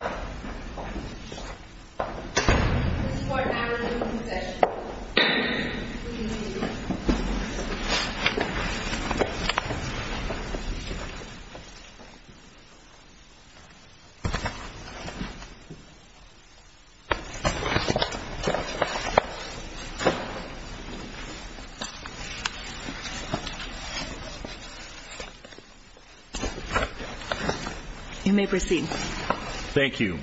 of New Mexico City. Thank you.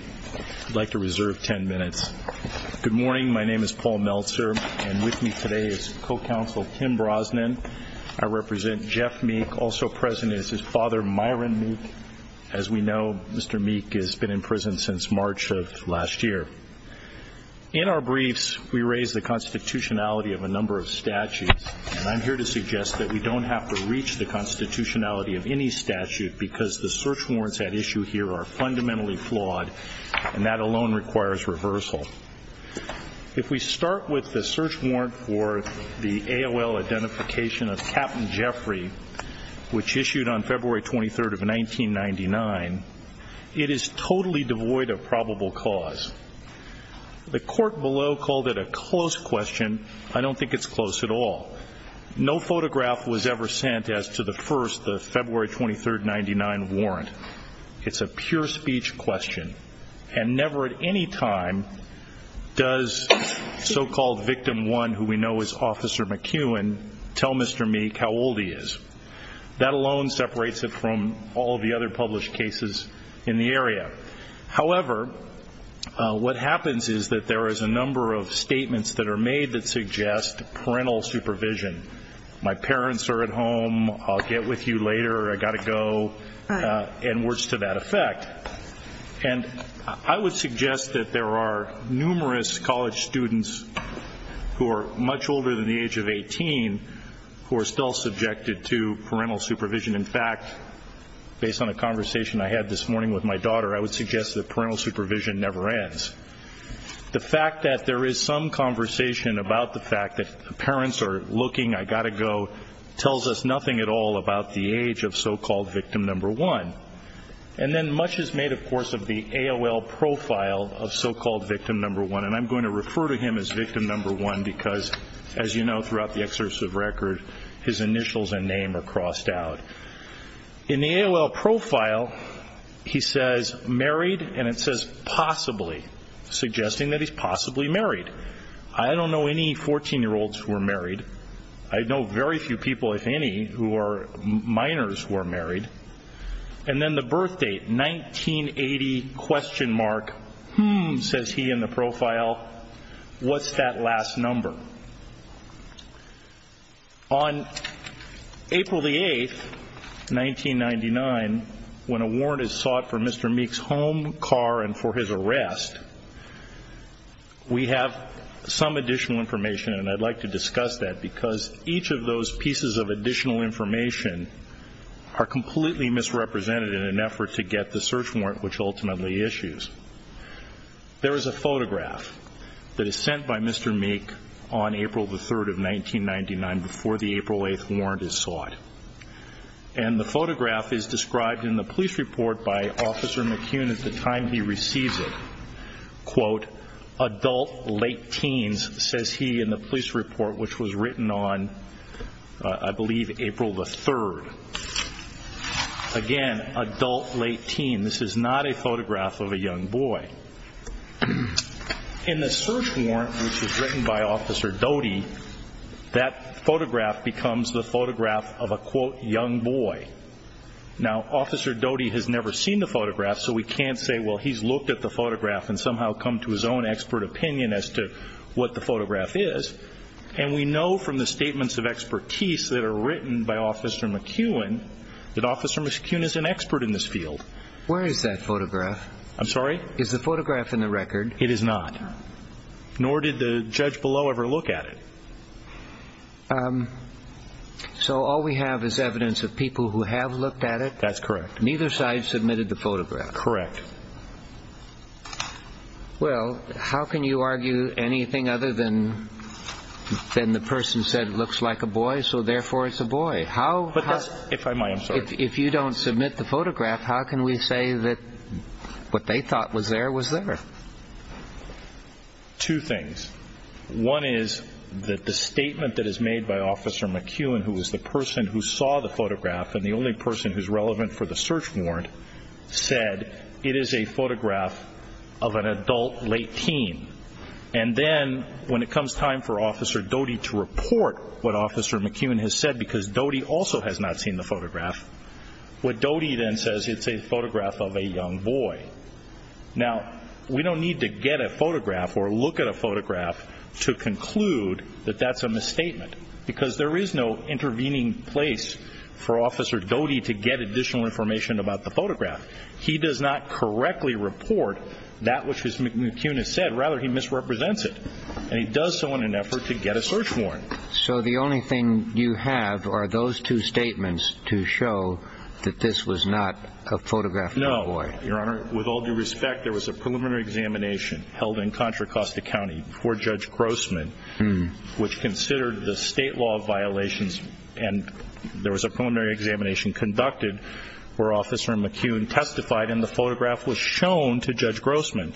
I'd like to reserve 10 minutes. Good morning, my name is Paul Meltzer and with me today is co-counsel Tim Brosnan. I represent Jeff Meek, also present is his father Myron Meek. As we know, Mr. Meek has been in prison since March of last year. In our briefs we raise the constitutionality of a number of statutes and I'm here to suggest that we don't have to reach the constitutionality of any statute because the search warrants at issue here are fundamentally flawed and that alone requires reversal. If we start with the search warrant for the AOL identification of Captain Jeffrey, which issued on February 23rd of 1999, it is totally devoid of probable cause. The court below called it a close question. I don't think it's close at all. No photograph was ever sent as to the first, the February 23rd, 1999 warrant. It's a pure speech question and never at any time does so-called victim one, who we know is Officer McEwen, tell Mr. Meek how old he is. That alone separates it from all the other published cases in the area. However, what happens is that there is a number of statements that are made that suggest parental supervision. My parents are at home. I'll get with you later. I've got to go. And words to that effect. And I would suggest that there are numerous college students who are much older than the age of 18 who are still subjected to parental supervision. In fact, based on a conversation I had this morning with my daughter, I would suggest that parental supervision never ends. The fact that there is some conversation about the fact that parents are looking, I've got to go, tells us nothing at all about the age of so-called victim number one. And then much is made, of course, of the AOL profile of so-called victim number one. And I'm going to refer to him as victim number one because, as you know, throughout the exercise of record, his initials and name are crossed out. In the AOL profile, he says married and it says possibly, suggesting that he's possibly married. I don't know any 14-year-olds who are married. I know very few people, if any, who are minors who are married. And then the birth date, 1980 question mark, hmm, says he in the profile. What's that last number? On April 8, 1999, when a warrant is sought for Mr. Meek's home, car, and for his arrest, we have some additional information and I'd like to discuss that because each of those pieces of additional information are completely misrepresented in an effort to get the search warrant, which ultimately issues. There is a photograph that is sent by Mr. Meek on April the 3rd of 1999 before the April 8th warrant is sought. And the photograph is described in the police report by Officer McCune at the time he receives it. Quote, adult, late teens, says he in the police report, which was written on, I believe, April the 3rd. Again, adult, late teens. This is not a photograph of a young boy. In the search warrant, which was written by Officer Young Boy. Now, Officer Doty has never seen the photograph, so we can't say, well, he's looked at the photograph and somehow come to his own expert opinion as to what the photograph is. And we know from the statements of expertise that are written by Officer McCune that Officer McCune is an expert in this field. Where is that photograph? I'm sorry? Is the photograph in the record? It is not. Nor did the judge below ever look at it. Um, so all we have is evidence of people who have looked at it. That's correct. Neither side submitted the photograph. Correct. Well, how can you argue anything other than then the person said it looks like a boy, so therefore it's a boy. How? If I might. If you don't submit the photograph, how can we say that what they thought was there was there? Two things. One is that the statement that is made by Officer McCune, who was the person who saw the photograph and the only person who's relevant for the search warrant, said it is a photograph of an adult late teen. And then when it comes time for Officer Doty to report what Officer McCune has said, because Doty also has not seen the photograph, what Doty then says it's a photograph of a young boy. Now, we don't need to get a photograph or look at a photograph to conclude that that's a misstatement, because there is no intervening place for Officer Doty to get additional information about the photograph. He does not correctly report that which is McCune has said. Rather, he misrepresents it, and he does so in an effort to get a search warrant. So the only thing you have are those two statements to show that this was not a photograph of a boy? No, Your Honor. With all due respect, there was a preliminary examination held in Contra Costa County for Judge Grossman, which considered the state law violations, and there was a preliminary examination conducted where Officer McCune testified, and the photograph was shown to Judge Grossman.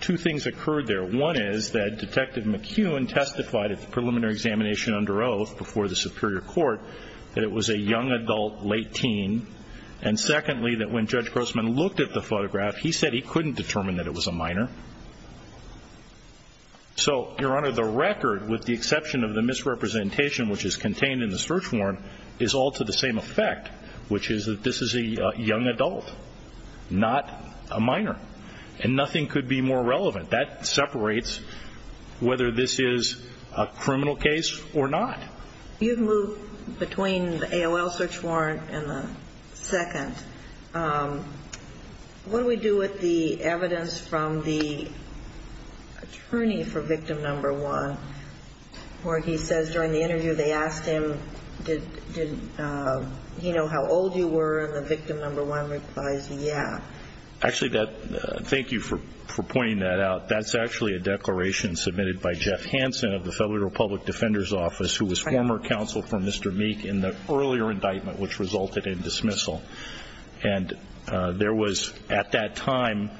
Two things occurred there. One is that Detective McCune testified at the preliminary examination under oath before the Superior Court that it was a young adult late teen. And secondly, that when Judge Grossman looked at the photograph, he said he couldn't determine that it was a minor. So, Your Honor, the record, with the exception of the misrepresentation which is contained in the search warrant, is all to the same effect, which is that this is a young adult, not a minor. And nothing could be more relevant. That separates whether this is a criminal case or not. You've moved between the AOL search warrant and the second. What do we do with the evidence from the attorney for victim number one, where he says during the interview they asked him, did he know how old you were? And the victim number one replies, yeah. Actually, thank you for pointing that out. That's actually a declaration submitted by Jeff Hansen of the Federal Republic Defender's Committee in the earlier indictment which resulted in dismissal. And there was at that time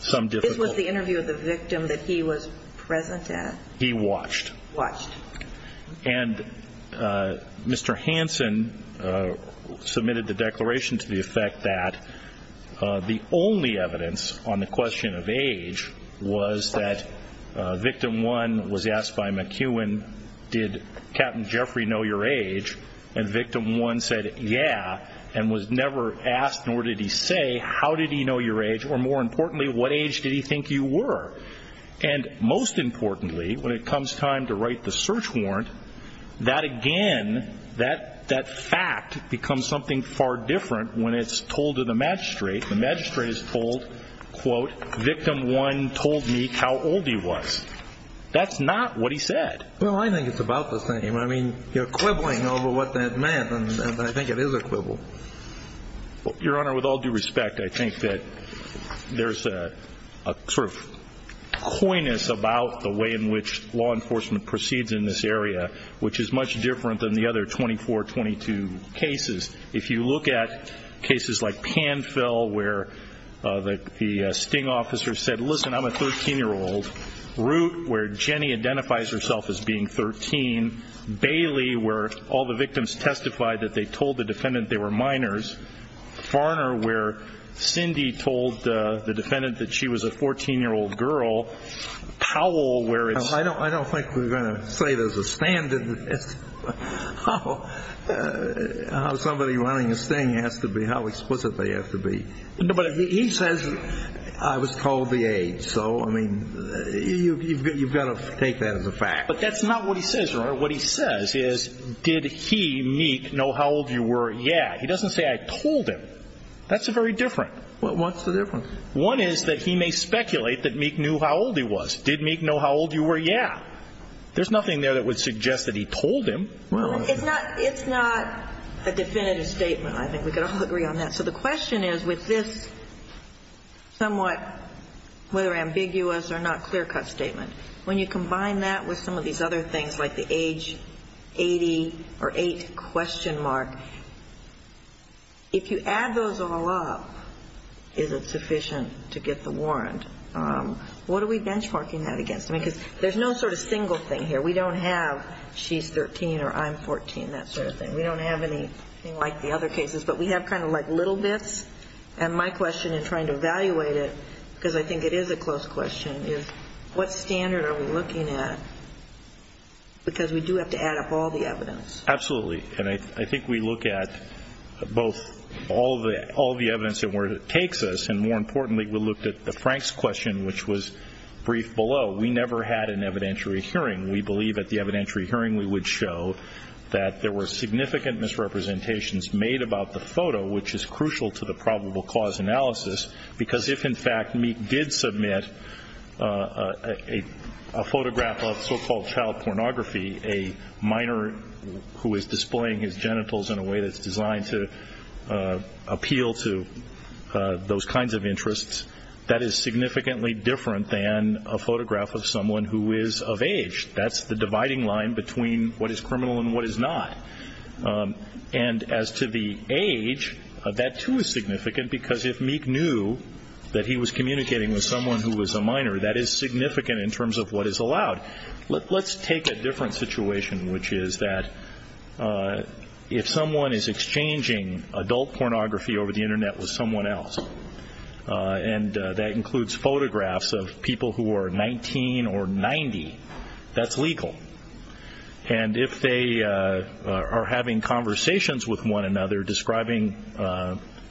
some difficulty. This was the interview of the victim that he was present at? He watched. And Mr. Hansen submitted the declaration to the effect that the only evidence on the question of age was that victim one was asked by McCune, did Captain Jeffrey know your age? And the victim one said, yeah, and was never asked nor did he say, how did he know your age? Or more importantly, what age did he think you were? And most importantly, when it comes time to write the search warrant, that again, that fact becomes something far different when it's told to the magistrate. The magistrate is told, quote, victim one told me how old he was. That's not what he said. Well, I think it's about the same. I mean, you're quibbling over what that meant. And I think it is a quibble. Your Honor, with all due respect, I think that there's a sort of coyness about the way in which law enforcement proceeds in this area which is much different than the other 24, 22 cases. If you look at cases like Panfell where the sting officer said, listen, I'm a 13-year-old, Root where Jenny identifies herself as being 13, Bailey where all the victims testified that they told the defendant they were minors, Farner where Cindy told the defendant that she was a 14-year-old girl, Powell where it's... I don't think we're going to say there's a standard as to how somebody running a sting has to be, how explicit they have to be. No, but he says I was told the age. So, I mean, you've got to take that as a fact. But that's not what he says, Your Honor. What he says is did he, Meek, know how old you were? Yeah. He doesn't say I told him. That's very different. Well, what's the difference? One is that he may speculate that Meek knew how old he was. Did Meek know how old you were? Yeah. There's nothing there that would suggest that he told him. Well, it's not a definitive statement, I think. We can all agree on that. So the question is with this somewhat, whether ambiguous or not, clear-cut statement, when you combine that with some of these other things like the age 80 or 8 question mark, if you add those all up, is it sufficient to get the warrant? What are we benchmarking that against? I mean, because there's no sort of single thing here. We don't have she's 13 or I'm 14, that sort of thing. We don't have anything like the other cases. But we have kind of like little bits. And my question in trying to evaluate it, because I think it is a close question, is what standard are we looking at? Because we do have to add up all the evidence. Absolutely. And I think we look at both all the evidence and where it takes us. And more importantly, we looked at the Frank's question, which was brief below. We never had an evidentiary hearing. We believe at the evidentiary hearing we would show that there were significant misrepresentations made about the photo, which is crucial to the probable cause analysis. Because if, in fact, Meek did submit a photograph of so-called child pornography, a minor who is displaying his genitals in a way that's designed to appeal to those kinds of interests, that is significantly different than a photograph of someone who is of age. That's the dividing line between what is criminal and what is not. And as to the age, that too is significant. Because if Meek knew that he was communicating with someone who was a minor, that is significant in terms of what is allowed. Let's take a different situation, which is that if someone is exchanging adult pornography over the Internet with someone else, and that includes photographs of people who are 19 or 90, that's legal. And if they are having conversations with one another, describing,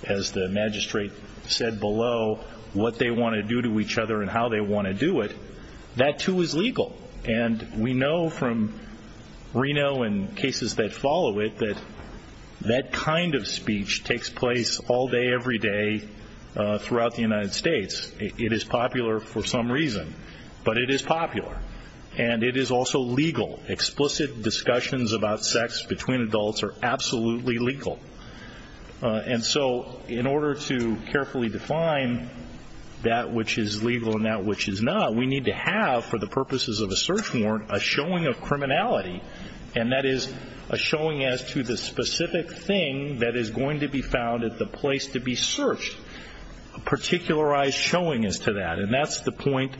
as the magistrate said below, what they want to do to each other and how they want to do it, that too is legal. And we know from Reno and cases that follow it that that kind of speech takes place all day every day throughout the United States. It is popular for some reason, but it is popular. And it is also legal. Explicit discussions about sex between adults are absolutely legal. And so in order to carefully define that which is legal and that which is not, we need to have, for the purposes of a search warrant, a showing of criminality, and that is a showing as to the specific thing that is going to be found at the place to be searched, a particularized showing as to that. And that is the point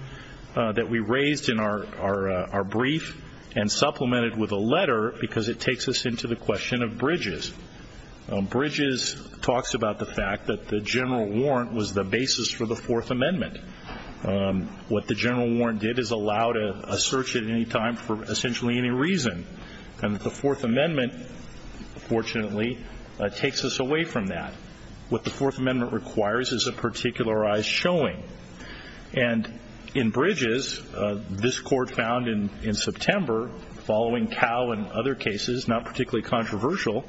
that we raised in our brief and supplemented with a letter, because it takes us into the question of Bridges. Bridges talks about the fact that the general warrant was the basis for the Fourth Amendment. What the general warrant did is allow a search at any time for essentially any reason. And the Fourth Amendment, fortunately, takes us away from that. What the Fourth Amendment requires is a particularized showing. And in Bridges, this Court found in September, following Cowe and other cases, not particularly controversial,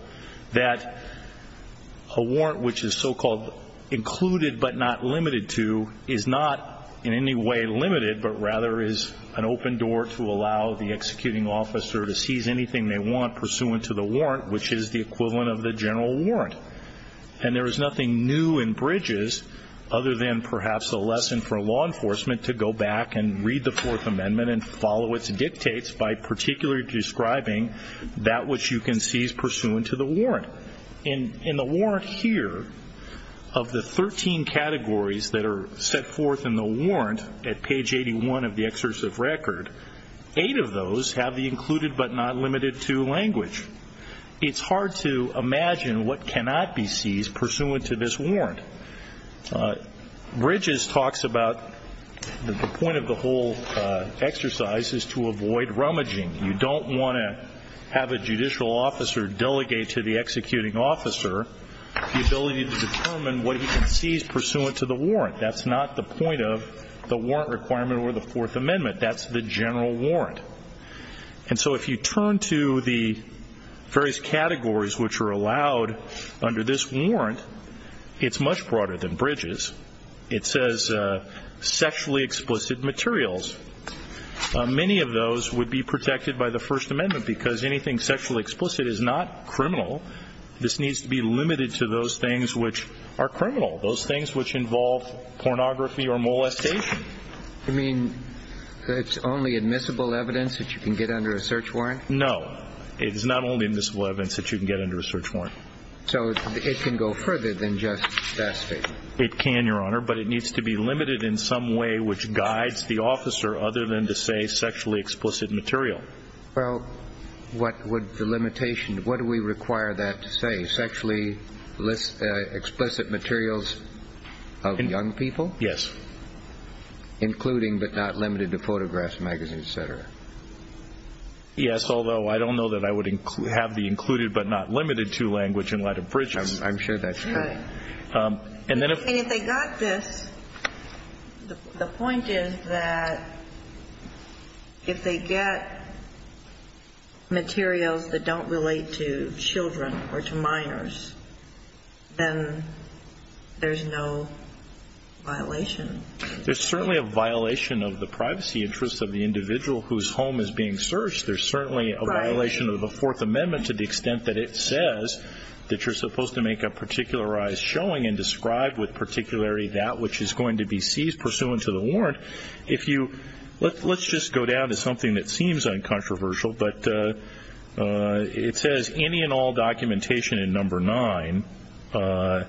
that a warrant which is so-called included but not limited to is not in any way limited, but rather is an open door to allow the executing officer to seize anything they want pursuant to the warrant, which is the equivalent of the general warrant. And there is nothing new in Bridges other than perhaps a lesson for law enforcement to go back and read the Fourth Amendment and follow its dictates by particularly describing that which you can seize pursuant to the warrant. In the warrant here, of the 13 categories that are set forth in the warrant at page 81 of the exercise of record, eight of those have the included but not limited to language. It's hard to imagine what cannot be seized pursuant to this warrant. Bridges talks about the point of the whole exercise is to avoid rummaging. You don't want to have a judicial officer delegate to the executing officer the ability to determine what he can seize pursuant to the warrant. That's not the point of the warrant requirement or the Fourth Amendment. That's the general warrant. And so if you turn to the various categories which are allowed under this warrant, it's much broader than Bridges. It says sexually explicit materials. Many of those would be protected by the First Amendment because anything sexually explicit is not criminal. This needs to be limited to those things which are criminal, those things which involve pornography or molestation. You mean it's only admissible evidence that you can get under a search warrant? No. It is not only admissible evidence that you can get under a search warrant. So it can go further than just that statement? It can, Your Honor, but it needs to be limited in some way which guides the officer other than to say sexually explicit material. Well, what would the limitation, what do we require that to say? Sexually explicit materials of young people? Yes. Including but not limited to photographs, magazines, etc.? Yes, although I don't know that I would have the included but not limited to language in light of Bridges. I'm sure that's true. And if they got this, the point is that if they get materials that don't relate to children or to minors, then there's no violation. There's certainly a violation of the privacy interests of the individual whose home is being searched. There's certainly a violation of the Fourth Amendment to the extent that it says that you're supposed to make a particularized showing and describe with particularity that which is going to be seized pursuant to the warrant. Let's just go down to something that seems uncontroversial, but it says any and all documentation in No. 9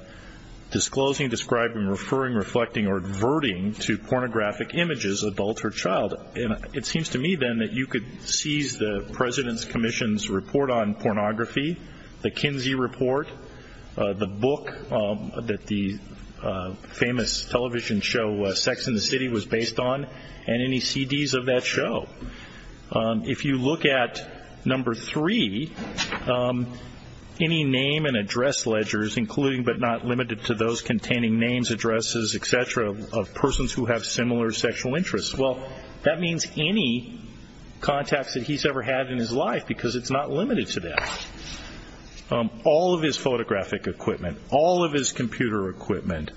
disclosing, describing, referring, reflecting, or adverting to pornographic images adult or child. It seems to me, then, that you could seize the President's Commission's report on pornography, the Kinsey report, the book that the famous television show Sex and the City was based on, and any CDs of that show. If you look at No. 3, any name and address ledgers, including but not limited to those that means any contacts that he's ever had in his life, because it's not limited to that. All of his photographic equipment, all of his computer equipment,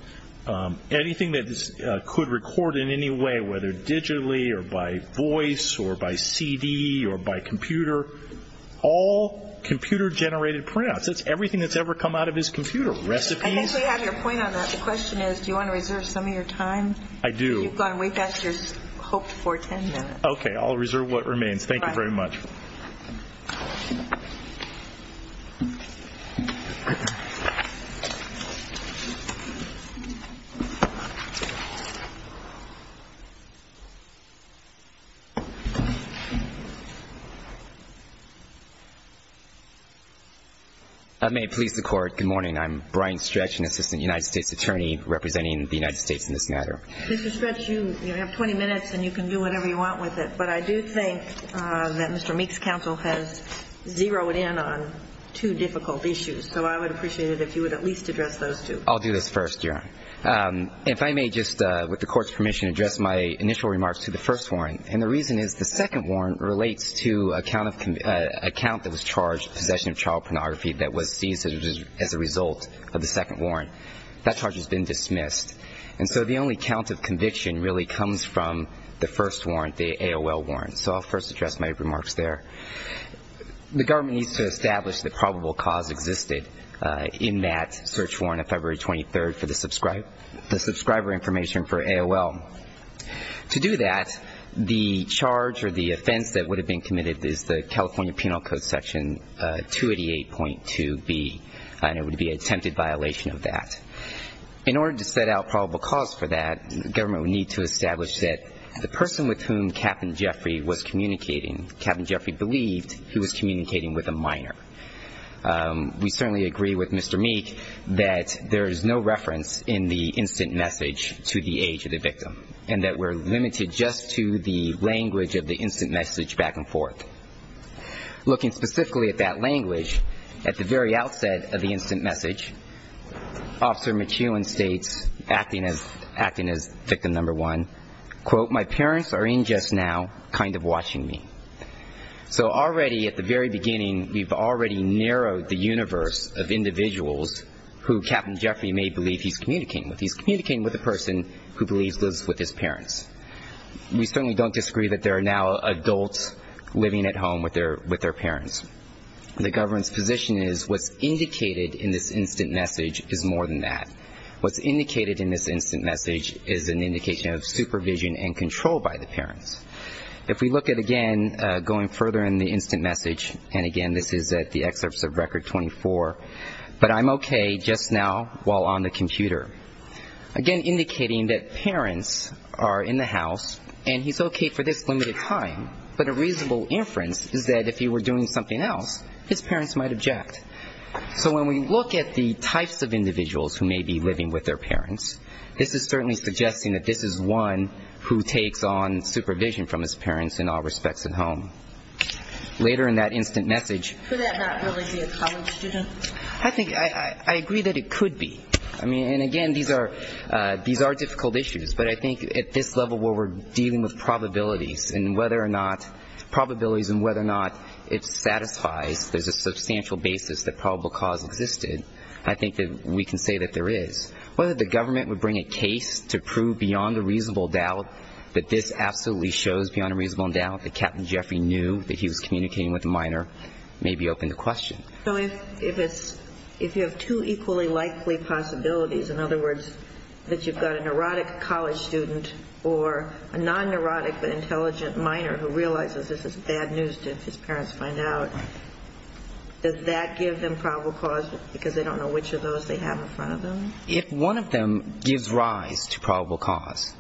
anything that could record in any way, whether digitally or by voice or by CD or by computer, all computer-generated printouts. That's everything that's ever come out of his computer, recipes. I think we have your point on that. The question is, do you want to reserve some of your time? I do. You've got to wait back to your hoped-for ten minutes. Okay. I'll reserve what remains. Thank you very much. I may please the Court. Good morning. I'm Brian Stretch, an Assistant United States Attorney representing the United States in this matter. Mr. Stretch, you have 20 minutes and you can do whatever you want with it, but I do think that Mr. Meek's counsel has zeroed in on two difficult issues, so I would appreciate it if you would at least address those two. I'll do this first, Your Honor. If I may just, with the Court's permission, address my initial remarks to the first warrant, and the reason is the second warrant relates to a count that was charged, possession of child pornography, that was seized as a result of the second missed, and so the only count of conviction really comes from the first warrant, the AOL warrant, so I'll first address my remarks there. The government needs to establish that probable cause existed in that search warrant of February 23rd for the subscriber information for AOL. To do that, the charge or the offense that would have been committed is the California Penal Code Section 288.2b, and it would be attempted violation of that. In order to set out probable cause for that, the government would need to establish that the person with whom Captain Jeffrey was communicating, Captain Jeffrey believed he was communicating with a minor. We certainly agree with Mr. Meek that there is no reference in the instant message to the age of the victim, and that we're limited just to the language of the instant message back and forth. Looking specifically at that language, at the very outset of the instant message, Officer McEwen states, acting as victim number one, quote, my parents are in just now, kind of watching me. So already at the very beginning, we've already narrowed the universe of individuals who Captain Jeffrey may believe he's communicating with. He's communicating with a person who believes lives with his parents. We certainly don't disagree that there are now adults living at home with their parents. The government's position is what's indicated in this instant message is more than that. What's indicated in this instant message is an indication of supervision and control by the parents. If we look at, again, going further in the instant message, and again, this is at the excerpts of Record 24, but I'm okay just now while on the computer. Again, indicating that parents are in the house, and he's okay for this limited time, but a reasonable inference is that if he were doing something else, his parents might object. So when we look at the types of individuals who may be living with their parents, this is certainly suggesting that this is one who takes on supervision from his parents in all respects at home. Later in that instant message ---- Could that not really be a college student? I think ---- I agree that it could be. I mean, and again, these are difficult issues. But I think at this level where we're dealing with probabilities and whether or not ---- probabilities and whether or not it satisfies, there's a substantial basis that probable cause existed, I think that we can say that there is. Whether the government would bring a case to prove beyond a reasonable doubt that this absolutely shows beyond a reasonable doubt that Captain Jeffrey knew that he was communicating with a minor may be open to question. So if you have two equally likely possibilities, in other words, that you've got a neurotic college student or a non-neurotic but intelligent minor who realizes this is bad news to his parents to find out, does that give them probable cause because they don't know which of those they have in front of them? If one of them gives rise to probable cause,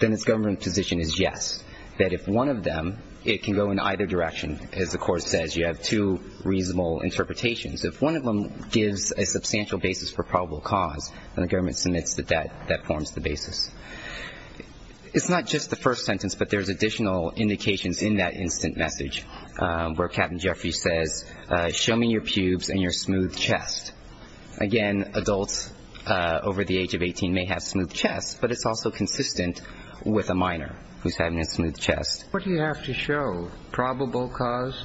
then its government position is yes, that if one of them, it can go in either direction. As the court says, you have two reasonable interpretations. If one of them gives a substantial basis for probable cause, then the government submits that that forms the basis. It's not just the first sentence, but there's additional indications in that instant message where Captain Jeffrey says, show me your pubes and your smooth chest. Again, adults over the age of 18 may have smooth chests, but it's also consistent with a minor who's having a smooth chest. What do you have to show? Probable cause?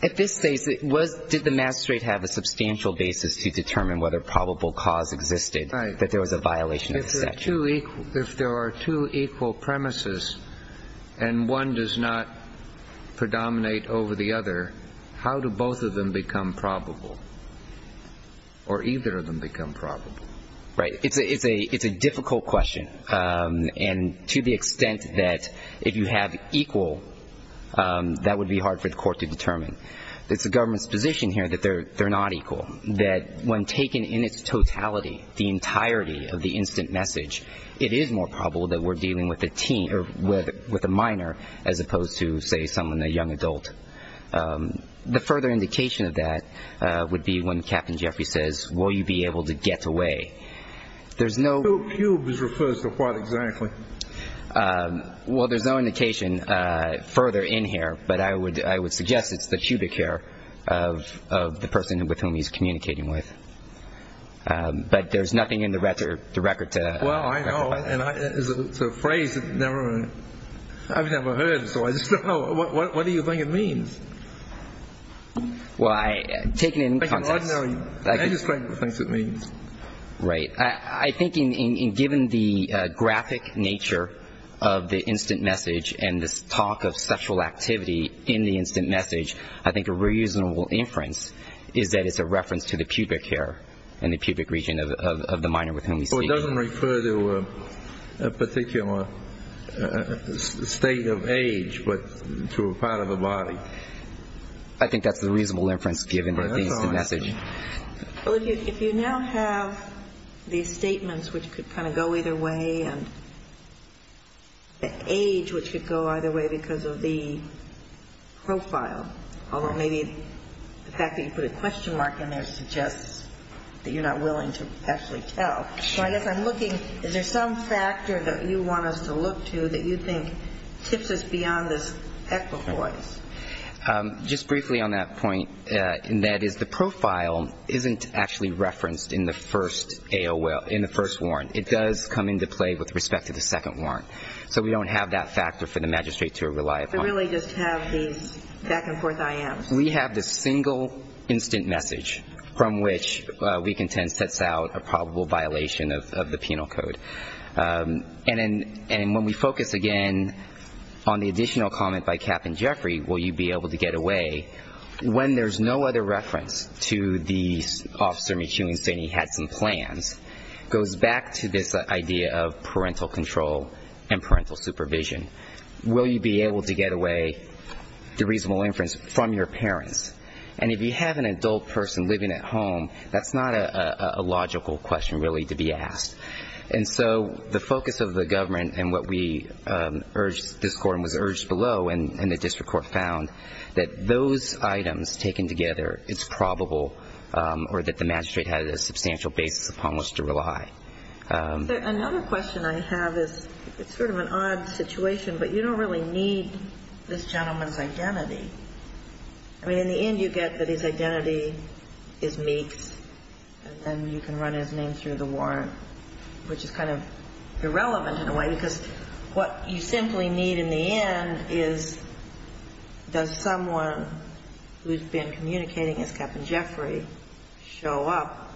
At this stage, did the master rate have a substantial basis to determine whether probable cause existed, that there was a violation of the statute? If there are two equal premises and one does not predominate over the other, how do both of them become probable? Or either of them become probable? Right. It's a difficult question. And to the extent that if you have equal, that would be hard for the court to determine. It's the government's position here that they're not equal. That when taken in its totality, the entirety of the instant message, it is more probable that we're dealing with a minor as opposed to, say, someone, a young adult. The further indication of that would be when Captain Jeffrey says, will you be able to get away? Pube is referred to what exactly? Well, there's no indication further in here, but I would suggest it's the pubic hair of the person with whom he's communicating with. But there's nothing in the record to clarify. Well, I know. And it's a phrase that I've never heard, so I just don't know. What do you think it means? Well, taking it in context. I think an ordinary magistrate thinks it means. Right. I think given the graphic nature of the instant message and this talk of sexual activity in the instant message, I think a reasonable inference is that it's a reference to the pubic hair and the pubic region of the minor with whom he's speaking. Well, it doesn't refer to a particular state of age, but to a part of the body. I think that's the reasonable inference given the instant message. Well, if you now have these statements which could kind of go either way and the age which could go either way because of the profile, although maybe the fact that you put a question mark in there suggests that you're not willing to actually tell. So I guess I'm looking, is there some factor that you want us to look to that you think tips us beyond this equipoise? Just briefly on that point, and that is the profile isn't actually referenced in the first AOL, in the first warrant. It does come into play with respect to the second warrant. So we don't have that factor for the magistrate to rely upon. We really just have these back and forth IMs. We have the single instant message from which weak intent sets out a probable violation of the penal code. And when we focus again on the additional comment by will you be able to get away, when there's no other reference to the officer McEwing saying he had some plans, goes back to this idea of parental control and parental supervision. Will you be able to get away, the reasonable inference, from your parents? And if you have an adult person living at home, that's not a logical question really to be asked. And so the focus of the government and what we urged this court and was urged this court found that those items taken together is probable or that the magistrate had a substantial basis upon which to rely. Another question I have is it's sort of an odd situation, but you don't really need this gentleman's identity. I mean, in the end you get that his identity is Meeks, and then you can run his name through the warrant, which is kind of irrelevant in a way because what you simply need in the end is does someone who's been communicating as Captain Jeffrey show up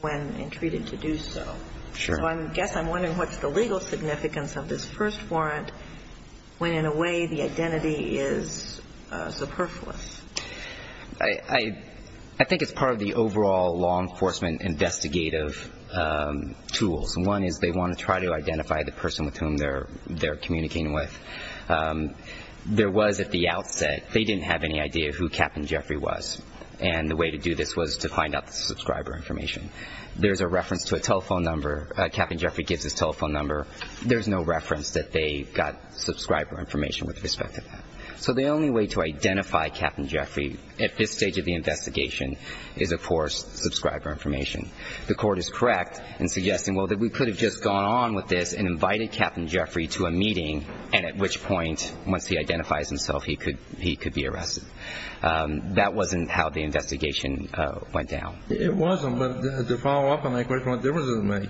when entreated to do so? So I guess I'm wondering what's the legal significance of this first warrant when in a way the identity is superfluous. I think it's part of the overall law enforcement investigative tools. One is they want to try to identify the person with whom they're communicating with. There was at the outset, they didn't have any idea who Captain Jeffrey was. And the way to do this was to find out the subscriber information. There's a reference to a telephone number. Captain Jeffrey gives his telephone number. There's no reference that they got subscriber information with respect to that. So the only way to identify Captain Jeffrey at this stage of the investigation is, of course, subscriber information. The court is correct in suggesting, well, that we could have just gone on with this and invited Captain Jeffrey to a meeting, and at which point, once he identifies himself, he could be arrested. That wasn't how the investigation went down. It wasn't, but to follow up on that question, what difference does it make?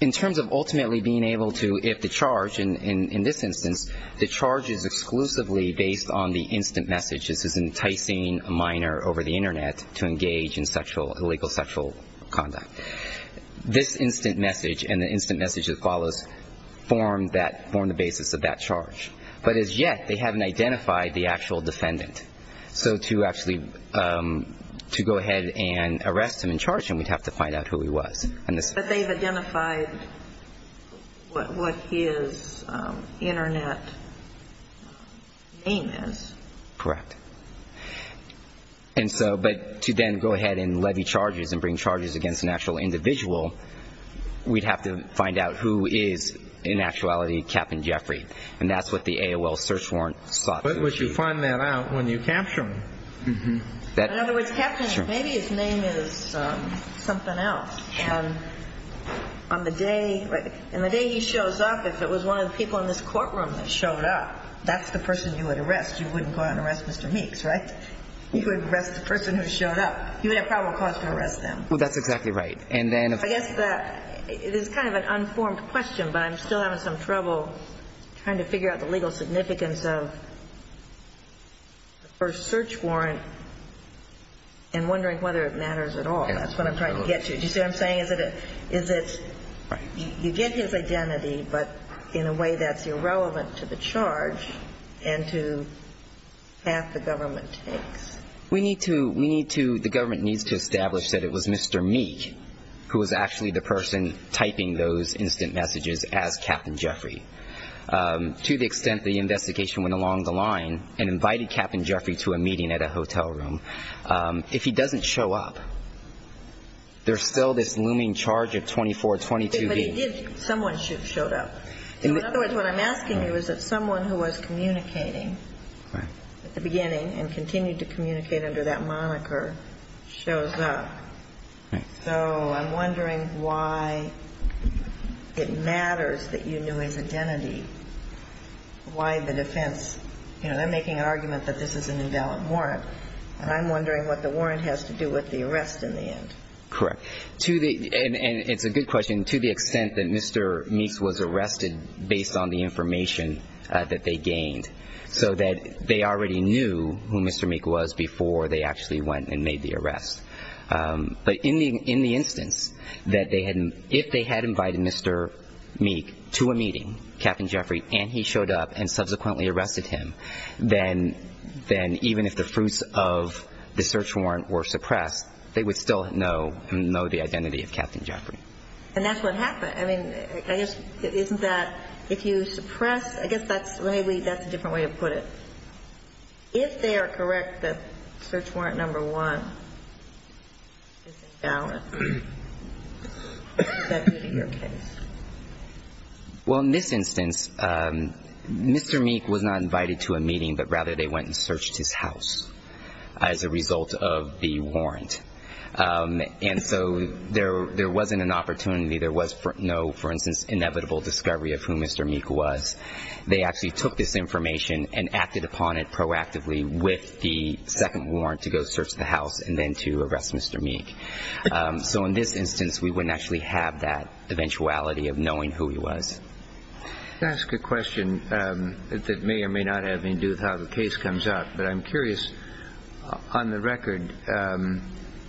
In terms of ultimately being able to, if the charge, in this instance, the charge is exclusively based on the instant message. This is enticing a minor over the Internet to engage in illegal sexual conduct. This instant message and the instant message that follows form the basis of that charge. But as yet, they haven't identified the actual defendant. So to actually go ahead and arrest him and charge him, we'd have to find out who he was. But they've identified what his Internet name is. Correct. And so, but to then go ahead and levy charges and bring charges against an actual individual, we'd have to find out who is, in actuality, Captain Jeffrey. And that's what the AOL search warrant sought to achieve. But you find that out when you capture him. In other words, Captain, maybe his name is something else. And on the day he shows up, if it was one of the people in this courtroom that wanted to go ahead and arrest Mr. Meeks, right, you could arrest the person who showed up. You would have probable cause to arrest them. Well, that's exactly right. I guess it is kind of an unformed question, but I'm still having some trouble trying to figure out the legal significance of the first search warrant and wondering whether it matters at all. That's what I'm trying to get to. Do you see what I'm saying? You get his identity, but in a way that's irrelevant to the charge. And to the path the government takes. We need to, we need to, the government needs to establish that it was Mr. Meeks who was actually the person typing those instant messages as Captain Jeffrey. To the extent the investigation went along the line and invited Captain Jeffrey to a meeting at a hotel room, if he doesn't show up, there's still this looming charge of 2422B. But he did, someone showed up. In other words, what I'm asking you is that someone who was communicating at the beginning and continued to communicate under that moniker shows up. So I'm wondering why it matters that you knew his identity, why the defense, you know, they're making an argument that this is an invalid warrant, and I'm wondering what the warrant has to do with the arrest in the end. Correct. To the, and it's a good question, to the extent that Mr. Meeks was arrested based on the information that they gained. So that they already knew who Mr. Meeks was before they actually went and made the arrest. But in the instance that they had, if they had invited Mr. Meeks to a meeting, Captain Jeffrey, and he showed up and subsequently arrested him, then even if the fruits of the search warrant were suppressed, they would still know the identity of Captain Jeffrey. And that's what happened. I mean, I guess, isn't that, if you suppress, I guess that's, maybe that's a different way to put it. If they are correct that search warrant number one is invalid, that would be your case. Well, in this instance, Mr. Meeks was not invited to a meeting, but rather they went and searched his house as a result of the warrant. And so there wasn't an opportunity. There was no, for instance, inevitable discovery of who Mr. Meeks was. They actually took this information and acted upon it proactively with the second warrant to go search the house and then to arrest Mr. Meeks. So in this instance, we wouldn't actually have that eventuality of knowing who he was. Can I ask a question that may or may not have anything to do with how the case comes out? But I'm curious, on the record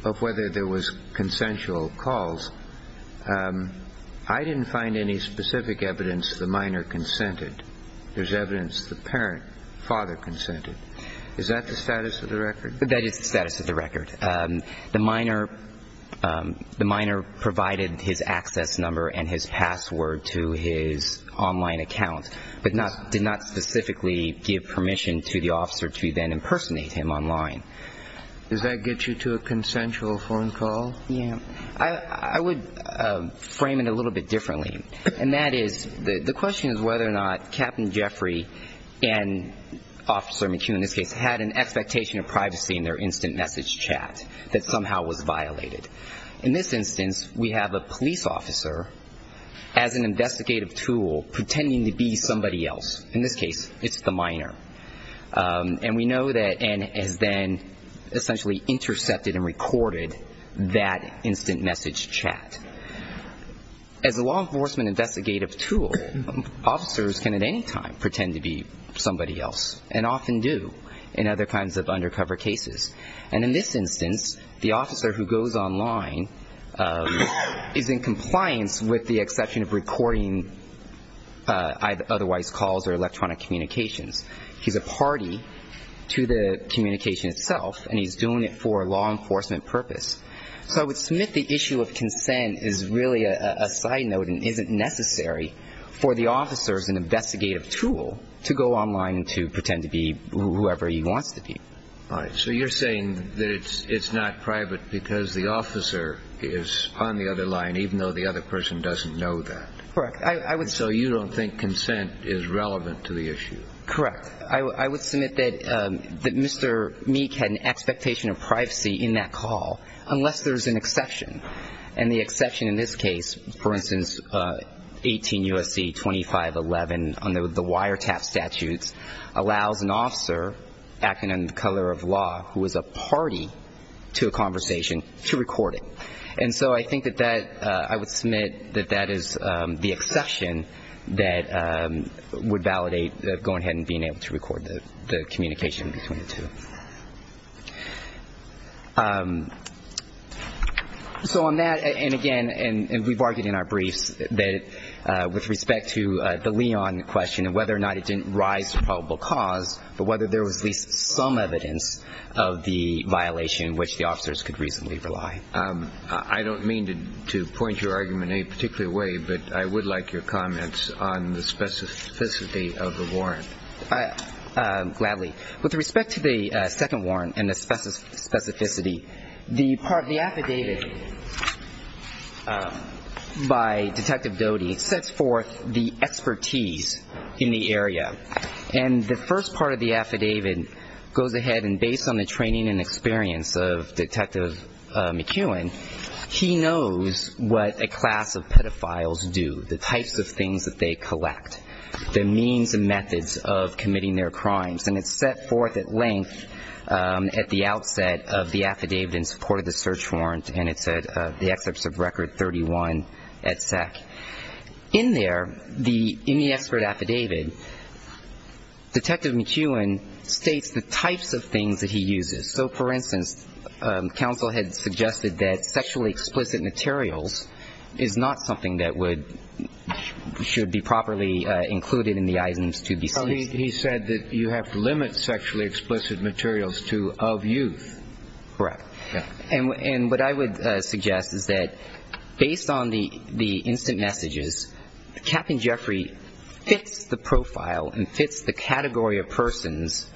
of whether there was consensual calls, I didn't find any specific evidence the minor consented. There's evidence the parent, father, consented. Is that the status of the record? That is the status of the record. The minor provided his access number and his password to his online account, but did not specifically give permission to the officer to then impersonate him online. Does that get you to a consensual phone call? Yeah. I would frame it a little bit differently, and that is the question is whether or not Captain Jeffrey and Officer McHugh in this case had an expectation of privacy in their instant message chat that somehow was violated. In this instance, we have a police officer as an investigative tool pretending to be somebody else. In this case, it's the minor. And we know that N has then essentially intercepted and recorded that instant message chat. As a law enforcement investigative tool, officers can at any time pretend to be somebody else, and often do. In other kinds of undercover cases. And in this instance, the officer who goes online is in compliance with the exception of recording either otherwise calls or electronic communications. He's a party to the communication itself, and he's doing it for a law enforcement purpose. So I would submit the issue of consent is really a side note for the officer as an investigative tool to go online to pretend to be whoever he wants to be. All right. So you're saying that it's not private because the officer is on the other line, even though the other person doesn't know that. Correct. So you don't think consent is relevant to the issue? Correct. I would submit that Mr. Meek had an expectation of privacy in that call, unless there's an exception. And the exception in this case, for instance, 18 U.S.C. 2511 under the wiretap statutes, allows an officer acting under the color of law who is a party to a conversation to record it. And so I think that that, I would submit that that is the exception that would validate going ahead and being able to record the communication between the two. So on that, and again, and we've argued in our briefs that with respect to the Leon question and whether or not it didn't rise to probable cause, but whether there was at least some evidence of the violation which the officers could reasonably rely. I don't mean to point your argument in any particular way, but I would like your comments on the specificity of the warrant. Gladly. With respect to the second warrant and the specificity, the affidavit by Detective Doty sets forth the expertise in the area. And the first part of the affidavit goes ahead and based on the training and experience of Detective McKeown, he knows what a class of pedophiles do, the types of things that they collect, the means and methods of committing their crimes. And it's set forth at length at the outset of the affidavit in support of the search warrant, and it's at the excerpts of Record 31 at SEC. In there, in the expert affidavit, Detective McKeown states the types of things that he uses. So, for instance, counsel had suggested that sexually explicit materials is not something that would should be properly included in the items to be seized. He said that you have to limit sexually explicit materials to of youth. Correct. And what I would suggest is that based on the instant messages, Captain Jeffrey fits the profile and fits the category of persons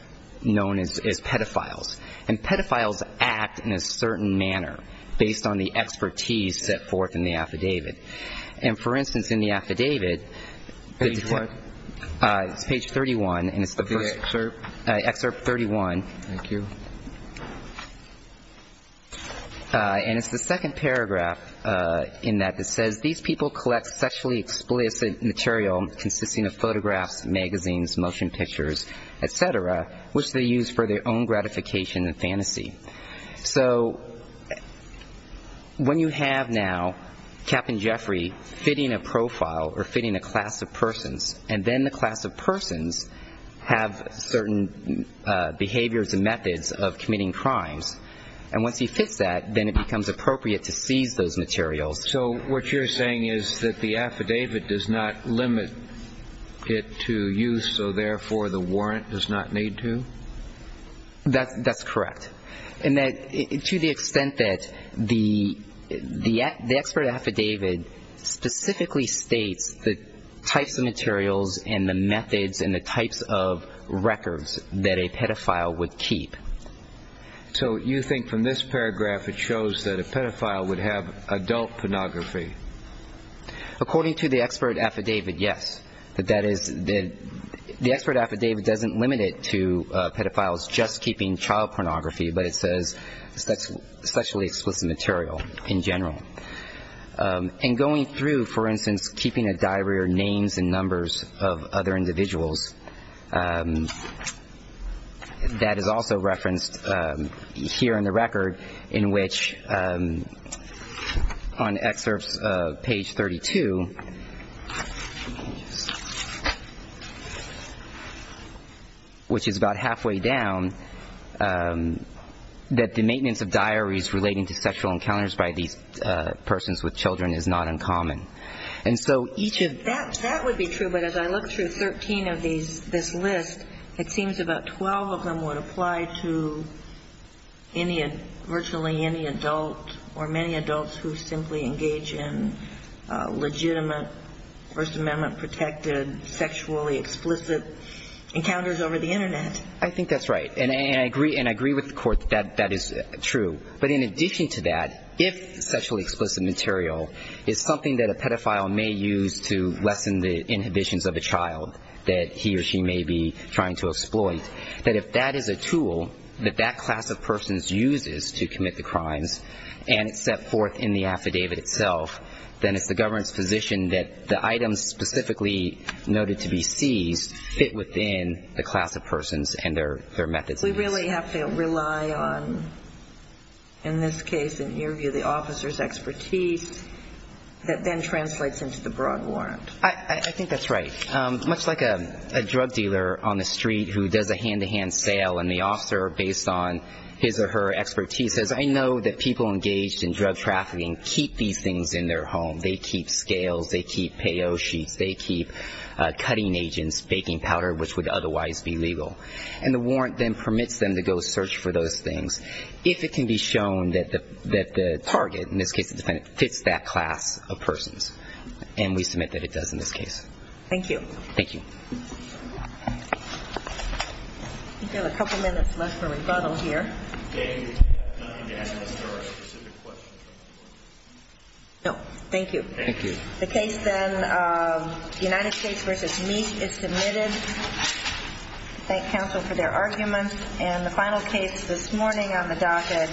known as pedophiles. And pedophiles act in a certain manner based on the expertise set forth in the affidavit. And, for instance, in the affidavit, page 31, and it's the first excerpt, excerpt 31. Thank you. And it's the second paragraph in that that says, these people collect sexually explicit material consisting of photographs, magazines, motion pictures, et cetera, which they use for their own gratification and fantasy. So when you have now Captain Jeffrey fitting a profile or fitting a class of persons, and then the class of persons have certain behaviors and methods of committing crimes, and once he fits that, then it becomes appropriate to seize those materials. So what you're saying is that the affidavit does not limit it to youth, so therefore the warrant does not need to? That's correct. And to the extent that the expert affidavit specifically states the types of materials and the methods and the types of records that a pedophile would keep. So you think from this paragraph it shows that a pedophile would have adult pornography? According to the expert affidavit, yes. That is, the expert affidavit doesn't limit it to pedophiles just keeping child pornography, but it says sexually explicit material in general. And going through, for instance, keeping a diary or names and numbers of other individuals, that is also referenced here in the record in which on excerpts of page 32, which is about halfway down, that the maintenance of diaries relating to sexual encounters by these persons with children is not uncommon. That would be true, but as I look through 13 of this list, it seems about 12 of them would apply to virtually any adult or many adults who simply engage in legitimate First Amendment-protected sexually explicit encounters over the Internet. I think that's right, and I agree with the Court that that is true. But in addition to that, if sexually explicit material is something that a pedophile may use to lessen the inhibitions of a child that he or she may be trying to exploit, that if that is a tool that that class of persons uses to commit the crimes and it's set forth in the affidavit itself, then it's the government's position that the items specifically noted to be seized We really have to rely on, in this case, in your view, the officer's expertise, that then translates into the broad warrant. I think that's right. Much like a drug dealer on the street who does a hand-to-hand sale and the officer, based on his or her expertise, says, I know that people engaged in drug trafficking keep these things in their home. They keep scales, they keep payo sheets, they keep cutting agents, baking powder, which would otherwise be legal. And the warrant then permits them to go search for those things if it can be shown that the target, in this case the defendant, fits that class of persons. And we submit that it does in this case. Thank you. Thank you. I think we have a couple minutes left for rebuttal here. Okay. You can ask us if there are specific questions. No. Thank you. Thank you. The case then, United States v. Meek, is submitted. Thank counsel for their arguments. And the final case this morning on the docket.